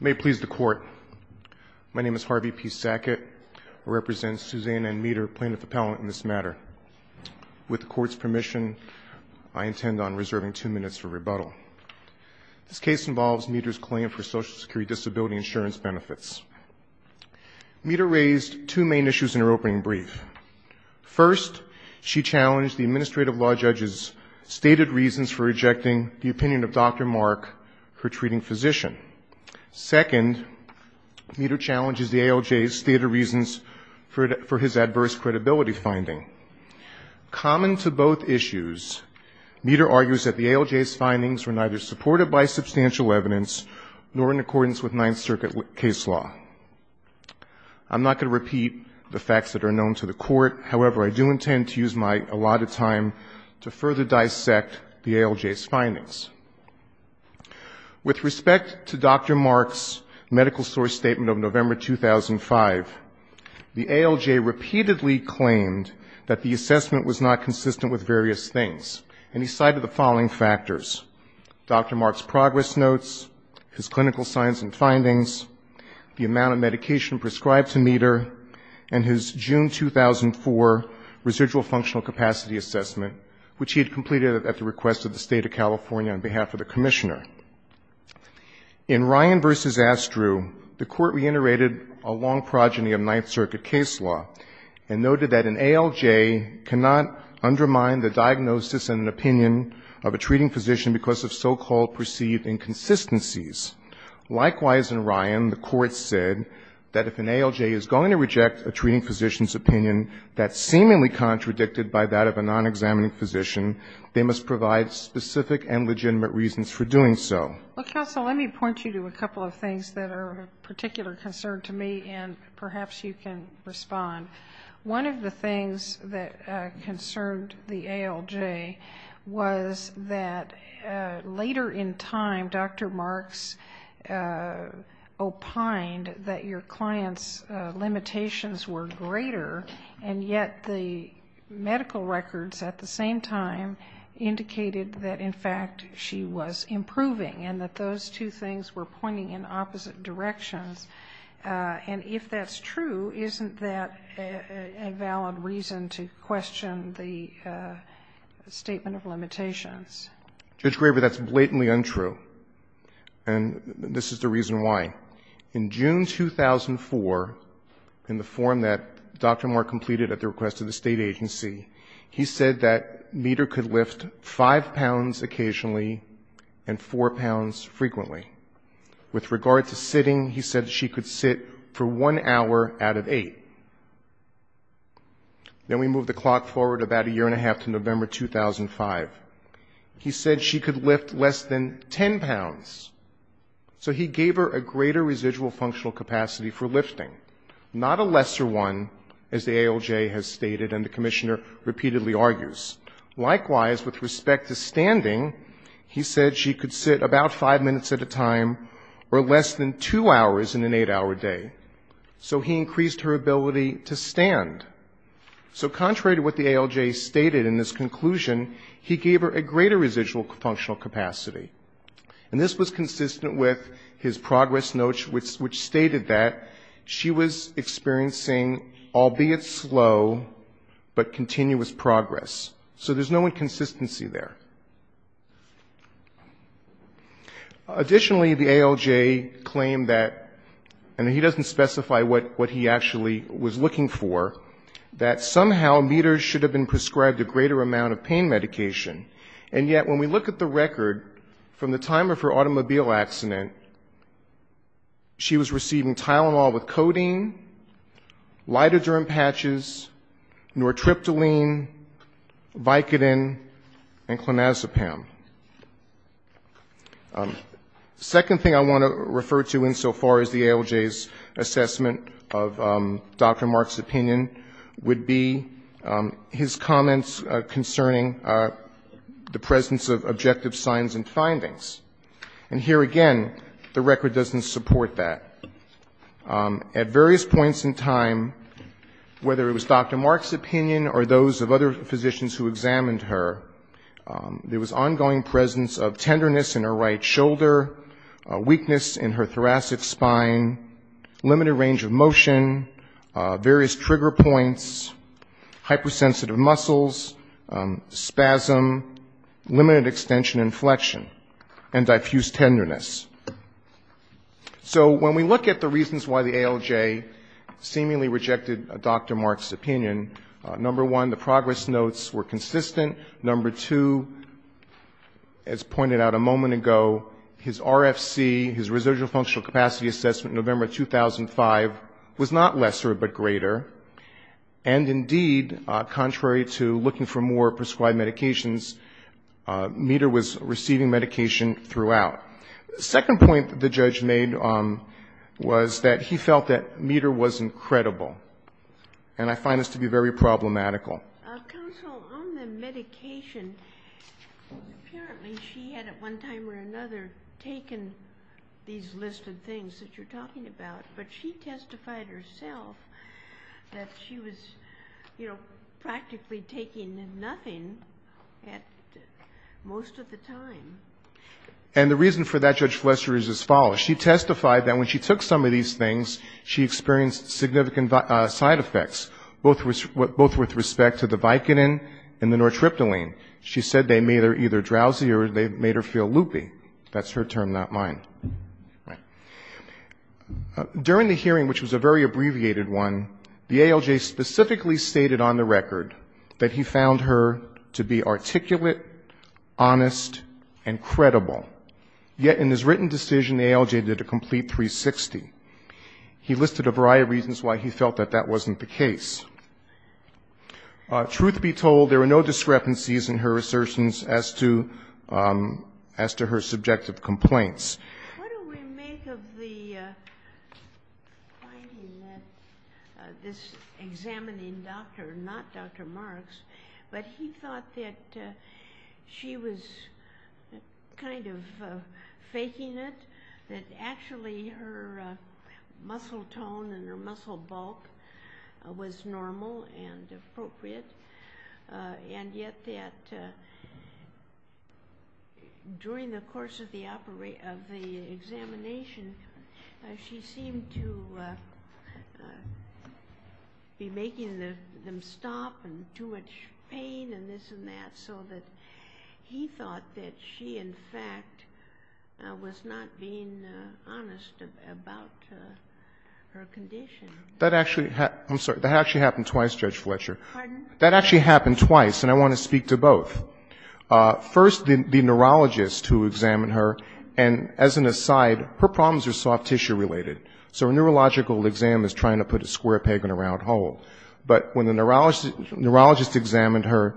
May it please the court. My name is Harvey P. Sackett. I represent Susanna and Meador, plaintiff appellant in this matter. With the court's permission, I intend on reserving two minutes for rebuttal. This case involves Meador's claim for Social Security disability insurance benefits. Meador raised two main issues in her opening brief. First, she challenged the administrative law judge's stated reasons for rejecting the opinion of Dr. Mark, her treating physician. Second, Meador challenges the ALJ's stated reasons for his adverse credibility finding. Common to both issues, Meador argues that the ALJ's findings were neither supported by substantial evidence nor in accordance with Ninth Circuit case law. I'm not going to repeat the facts that are known to the court. However, I do intend to use my allotted time to further dissect the ALJ's findings. With respect to Dr. Mark's medical source statement of November 2005, the ALJ repeatedly claimed that the assessment was not consistent with various things, and he cited the following factors. Dr. Mark's progress notes, his clinical science and findings, the amount of medication prescribed to Meador, and his June 2004 residual functional capacity assessment, which he had completed at the request of the State of California on behalf of the Commissioner. In Ryan v. Astru, the Court reiterated a long progeny of Ninth Circuit case law and noted that an ALJ cannot undermine the diagnosis and an opinion of a treating physician because of so-called perceived inconsistencies. Likewise, in Ryan, the Court said that if an ALJ is going to reject a treating physician's opinion, that's seemingly contradicted by the opinion of a non-examining physician, they must provide specific and legitimate reasons for doing so. Well, counsel, let me point you to a couple of things that are of particular concern to me, and perhaps you can respond. One of the things that concerned the ALJ was that later in time Dr. Mark's opined that your client's limitations were greater, and yet the medical records at the same time indicated that, in fact, she was improving, and that those two things were pointing in opposite directions. And if that's true, isn't that a valid reason to question the statement of limitations? Judge Graber, that's blatantly untrue, and this is the reason why. In June 2004, in the form that Dr. Mark completed at the request of the State agency, he said that Meeder could lift five pounds occasionally and four pounds frequently. With regard to sitting, he said she could sit for one hour out of eight. Then we move the clock forward about a year and a half to November 2005. He said she could lift less than 10 pounds. So he gave her a greater residual functional capacity for lifting, not a lesser one, as the ALJ has stated and the Commissioner repeatedly argues. Likewise, with respect to standing, he said she could sit about five minutes at a time or less than two hours in an eight-hour day. So he increased her ability to stand. So contrary to what the ALJ stated in this conclusion, he gave her a greater residual functional capacity. And this was consistent with his progress notes, which stated that she was experiencing, albeit slow, but continuous progress. So there's no inconsistency there. Additionally, the ALJ claimed that, and he doesn't specify what he actually was looking for, that somehow Meeder should have been able to stand. But if you look at the record, from the time of her automobile accident, she was receiving Tylenol with codeine, lidoderm patches, nortriptyline, Vicodin, and clonazepam. Second thing I want to refer to insofar as the ALJ's assessment of Dr. Mark's opinion would be his comments concerning the objective signs and findings. And here again, the record doesn't support that. At various points in time, whether it was Dr. Mark's opinion or those of other physicians who examined her, there was ongoing presence of tenderness in her right shoulder, weakness in her thoracic spine, limited range of motion, various trigger points, hypersensitive muscles, spasm, limited extension of her legs, and a lack of mobility. I should mention inflection and diffused tenderness. So when we look at the reasons why the ALJ seemingly rejected Dr. Mark's opinion, number one, the progress notes were consistent. Number two, as pointed out a moment ago, his RFC, his residual functional capacity assessment in November 2005 was not lesser, but greater. And indeed, contrary to looking for more prescribed medications, Meeder would have been able to do that if he was receiving medication throughout. The second point the judge made was that he felt that Meeder was incredible. And I find this to be very problematical. Counsel, on the medication, apparently she had at one time or another taken these listed things that you're talking about, but she testified herself that she was, you know, practically taking nothing at most of the time. And the reason for that, Judge Fletcher, is as follows. She testified that when she took some of these things, she experienced significant side effects, both with respect to the Vicodin and the nortriptyline. She said they made her either drowsy or they made her feel loopy. That's her term, not mine. During the hearing, which was a very abbreviated one, the ALJ specifically stated on the record that he found her to be complete and credible. Yet in his written decision, the ALJ did a complete 360. He listed a variety of reasons why he felt that that wasn't the case. Truth be told, there were no discrepancies in her assertions as to her subjective complaints. What do we make of the finding that this examining doctor, not Dr. Marks, but he thought that she was, you know, kind of faking it, that actually her muscle tone and her muscle bulk was normal and appropriate. And yet that during the course of the examination, she seemed to be making them stop and too much pain and this and that, so that he thought that she, in fact, was not being honest about her condition. That actually happened twice, Judge Fletcher. That actually happened twice, and I want to speak to both. First, the neurologist who examined her, and as an aside, her problems are soft tissue related. So a neurological exam is trying to put a square peg in a round hole. But when the neurologist examined her,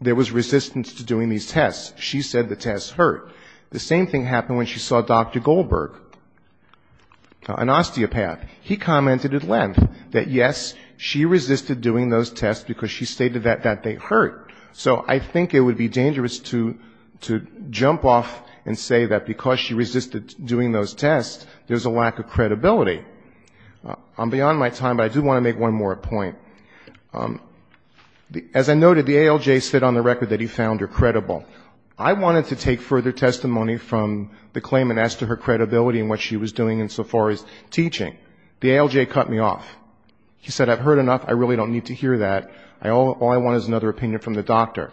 there was resistance to doing these tests. She said the tests hurt. The same thing happened when she saw Dr. Goldberg, an osteopath. He commented at length that, yes, she resisted doing those tests because she stated that they hurt. So I think it would be dangerous to jump off and say that because she resisted doing those tests, there's a lack of credibility. I'm beyond my time, but I do want to make one more point. As I noted, the ALJ said on the record that he found her credible. I wanted to take further testimony from the claimant as to her credibility and what she was doing insofar as teaching. The ALJ cut me off. He said, I've heard enough. I really don't need to hear that. All I want is another opinion from the doctor.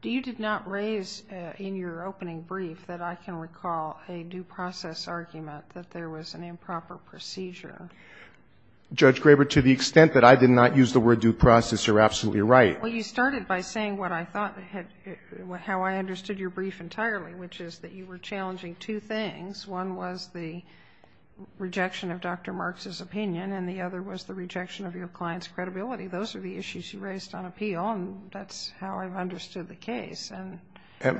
Do you not raise in your opening brief that I can recall a due process argument that there was an improper procedure? Judge Graber, to the extent that I did not use the word due process, you're absolutely right. Well, you started by saying what I thought, how I understood your brief entirely, which is that you were challenging two things. One was the rejection of Dr. Marks' opinion, and the other was the rejection of your client's credibility. Those are the issues you raised on appeal, and that's how I've understood the case.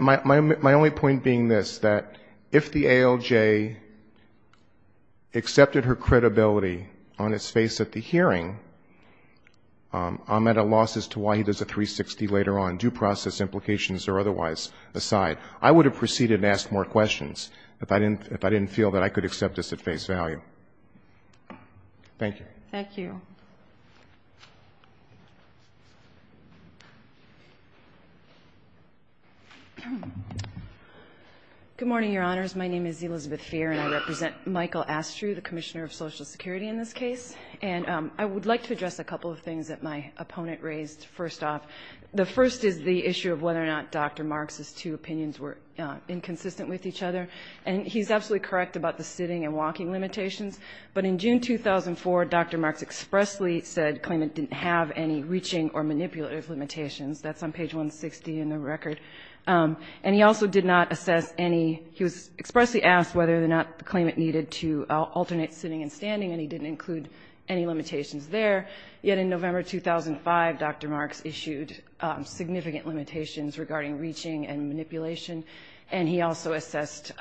My only point being this, that if the ALJ accepted her credibility on its face at the hearing, I'm at a loss as to why he chose a 360 later on, due process implications are otherwise aside. I would have proceeded and asked more questions if I didn't feel that I could accept this at face value. Thank you. Thank you. Good morning, Your Honors. My name is Elizabeth Feer, and I represent Michael Astrew, the Commissioner of Social Security in this case. And I would like to address a couple of things that my opponent raised. First off, the first is the issue of whether or not Dr. Marks' two opinions were inconsistent with each other. And he's absolutely correct about the sitting and walking limitations. But in June 2004, Dr. Marks expressly said the claimant didn't have any reaching or manipulative limitations. That's on page 160 in the record. And he also did not assess any he was expressly asked whether or not the claimant needed to alternate sitting and standing, and he didn't include any limitations there. Yet in November 2005, Dr. Marks issued significant limitations regarding reaching and manipulation, and he also assessed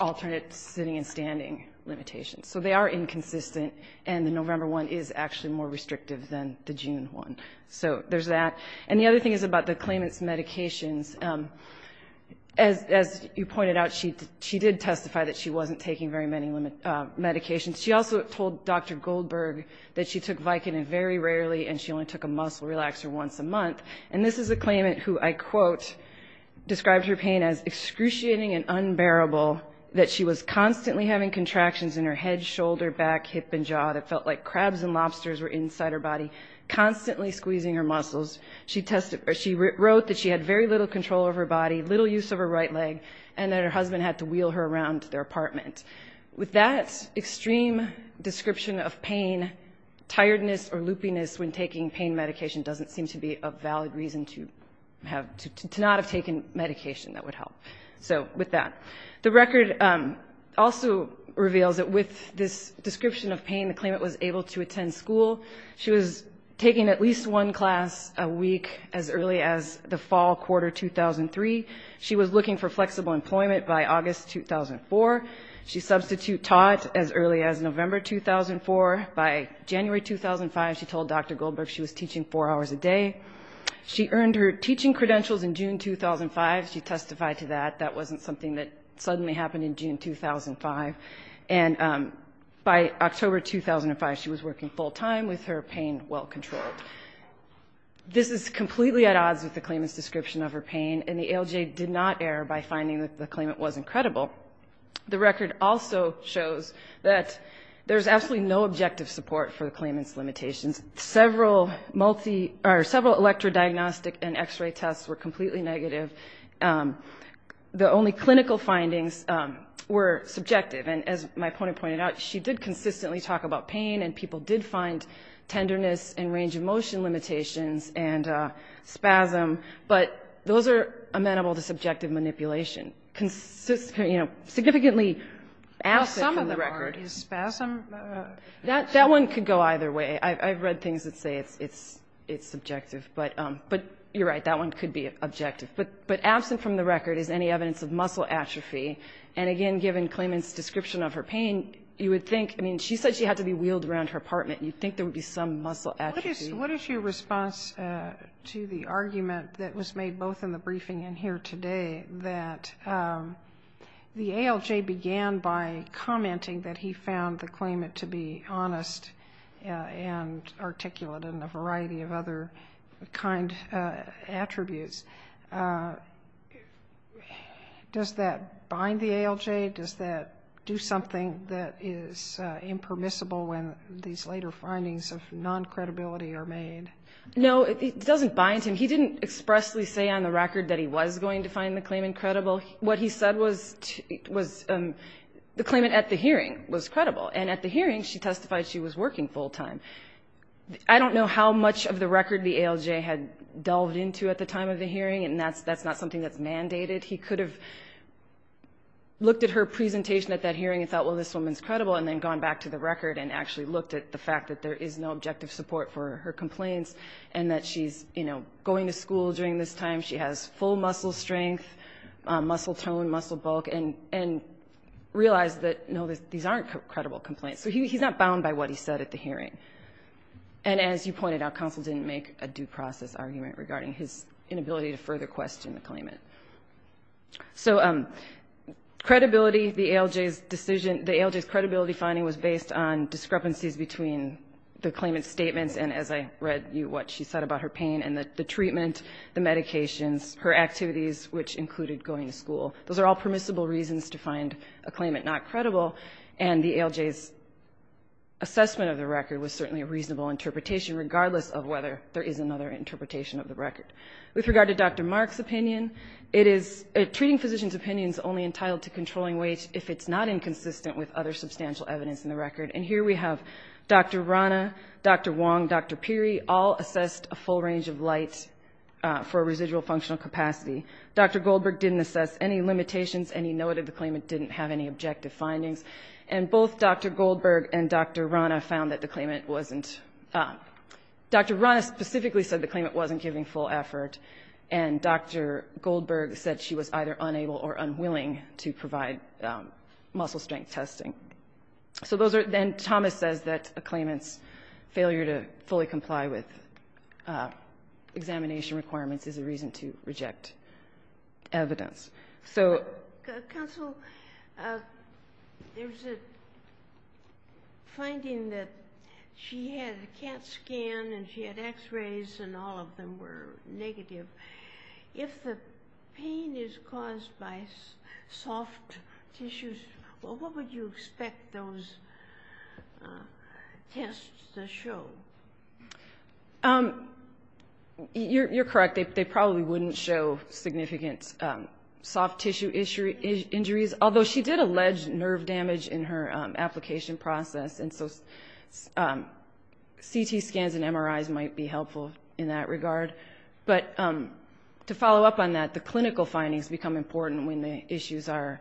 alternate sitting and standing limitations. So they are inconsistent, and the November one is actually more restrictive than the June one. So there's that. And the other thing is about the claimant's medications. As you pointed out, she did testify that she wasn't taking very many medications. She also told Dr. Goldberg that she took Vicodin very rarely, and she only took a muscle relaxer once a month. And this is a claimant who I quote, described her pain as excruciating and unbearable, that she was constantly having contractions in her head, shoulder, back, hip, and jaw that felt like crabs and lobsters were inside her body, constantly squeezing her muscles. She wrote that she had very little control of her body, little use of her right leg, and that her husband had to wheel her around their apartment. With that extreme description of pain, tiredness or loopiness when taking pain medication doesn't seem to be a valid reason to not have taken medication that would help. So with that. The claimant was able to attend school. She was taking at least one class a week as early as the fall quarter 2003. She was looking for flexible employment by August 2004. She substitute taught as early as November 2004. By January 2005 she told Dr. Goldberg she was teaching four hours a day. She earned her teaching credentials in June 2005. She testified to that. That wasn't something that suddenly happened in June 2005. And by October 2005 she was working full time with her pain well controlled. This is completely at odds with the claimant's description of her pain, and the ALJ did not err by finding that the claimant was incredible. The record also shows that there's absolutely no objective support for the claimant's limitations. Several electrodiagnostic and x-ray tests were completely negative. The only clinical findings were subjective, and as my opponent pointed out, she did consistently talk about pain, and people did find tenderness and range of motion limitations and spasm. But those are amenable to subjective manipulation. Significantly absent from the record. That one could go either way. I've read things that say it's subjective. But you're right, that one could be objective. But absent from the record is any evidence of muscle atrophy. And again, given the claimant's description of her pain, you would think, I mean, she said she had to be wheeled around her apartment. You'd think there would be some muscle atrophy. What is your response to the argument that was made both in the briefing and here today that the ALJ began by commenting that he found the claimant to be honest and articulate and a variety of other kind attributes? Does that bind the ALJ? Does that do something that is impermissible when these later findings of non-credibility are made? No, it doesn't bind him. He didn't expressly say on the record that he was going to find the claimant credible. What he said was the claimant at the hearing was credible. And at the hearing, she testified she was working full-time. I don't know how much of the record the ALJ had delved into at the time of the hearing, and that's not something that's mandated. He could have looked at her presentation at that hearing and thought, well, this woman's credible, and then gone back to the record and actually looked at the fact that there is no objective support for her complaints and that she's, you know, going to school during this time, she has full muscle strength, muscle tone, muscle bulk, and realized that, no, these aren't credible complaints. So he's not bound by what he said at the hearing. And as you pointed out, counsel didn't make a due process argument regarding his inability to further question the claimant. So credibility, the ALJ's decision, the ALJ's credibility finding was based on discrepancies between the claimant's statements and, as I read you, what she said about her pain and the treatment, the medications, her activities, which included going to school. Those are all permissible reasons to find a claimant not credible, and the ALJ's assessment of the record was certainly a reasonable interpretation, regardless of whether there is another interpretation of the record. With regard to Dr. Mark's opinion, treating physician's opinion is only entitled to controlling weight if it's not inconsistent with other substantial evidence in the record. And here we have Dr. Rana, Dr. Wong, Dr. Pirri, all assessed a full range of light for residual functional capacity. Dr. Goldberg didn't assess any limitations, and he noted the claimant didn't have any objective findings. And both Dr. Goldberg and Dr. Rana found that the claimant wasn't, Dr. Rana specifically said the claimant wasn't giving full effort, and Dr. Goldberg said she was either unable or unwilling to provide muscle strength testing. So those are, then Thomas says that a claimant's failure to fully comply with examination requirements is a reason to reject evidence. So... Counsel, there's a finding that she had a CAT scan and she had x-rays and all of them were negative. If the pain is caused by soft tissues, what would you expect those tests to show? You're correct. They probably wouldn't show significant soft tissue injuries, although she did allege nerve damage in her application process. And so, CT scans and MRIs might be helpful in that regard. But to follow up on that, the clinical findings become important when the issues are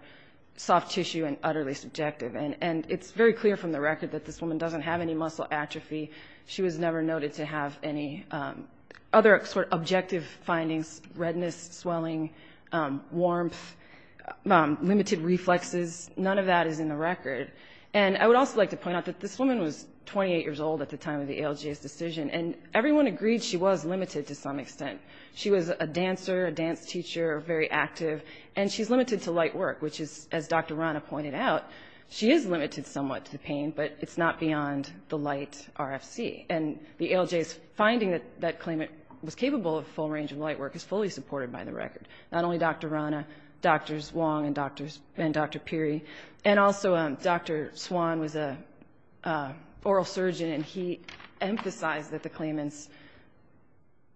soft tissue and utterly subjective. And it's very clear from the record that this woman doesn't have any muscle atrophy. She was never noted to have any other objective findings, redness, swelling, warmth, limited reflexes, none of that is in the record. And I would also like to point out that this woman was 28 years old at the time of the ALJ's decision, and everyone agreed she was limited to some extent. She was a dancer, a dance teacher, very active, and she's limited to light work, which is, as Dr. Rana pointed out, she is limited somewhat to pain, but it's not beyond the light RFC. And the ALJ's finding that that claimant was capable of a full range of light work is fully supported by the record. Not only Dr. Rana, Drs. Wong and Dr. Pirri, and also Dr. Swan was an oral surgeon, and he emphasized that the claimant's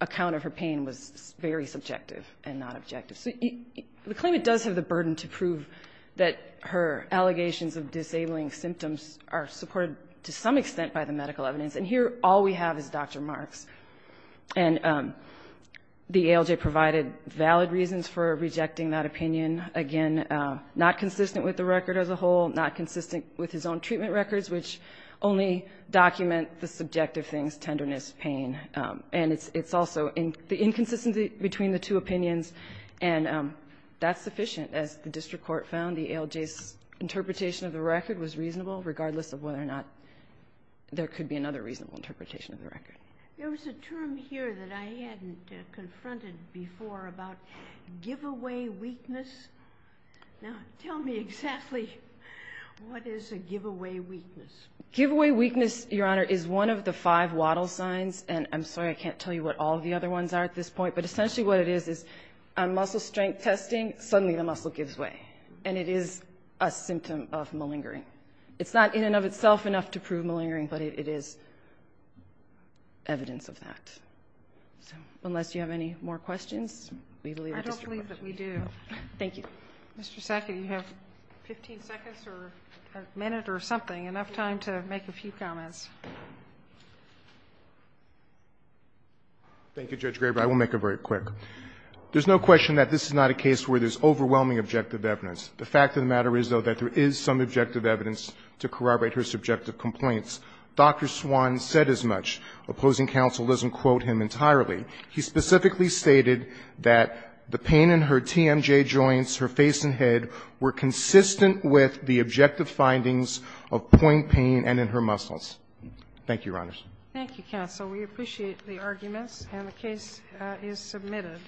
account of her pain was very subjective and not objective. So the claimant does have the burden to prove that her allegations of disabling symptoms are supported to some extent by the medical evidence, and here all we have is Dr. Marks. The ALJ provided valid reasons for rejecting that opinion. Again, not consistent with the record as a whole, not consistent with his own treatment records, which only document the subjective things, tenderness, pain. And it's also the inconsistency between the two opinions, and that's sufficient. As the district court found, the ALJ's reasonable, regardless of whether or not there could be another reasonable interpretation of the record. There was a term here that I hadn't confronted before about give-away weakness. Now, tell me exactly what is a give-away weakness? Give-away weakness, Your Honor, is one of the five waddle signs, and I'm sorry I can't tell you what all the other ones are at this point, but essentially what it is is on muscle strength testing, suddenly the muscle gives way. And it is a symptom of malingering. It's not in and of itself enough to prove malingering, but it is evidence of that. So, unless you have any more questions, we leave it at district court. I don't believe that we do. Thank you. Mr. Sackett, you have 15 seconds or a minute or something, enough time to make a few comments. Thank you, Judge Graber. I will make it very quick. There's no question that this is not a case where there's overwhelming objective evidence. The fact of the matter is, though, that there is some objective evidence to corroborate her subjective complaints. Dr. Swan said as much. Opposing counsel doesn't quote him entirely. He specifically stated that the pain in her TMJ joints, her face and head, were consistent with the objective findings of point pain and in her muscles. Thank you, Your Honors. Thank you, counsel. We appreciate the arguments, and the case is submitted.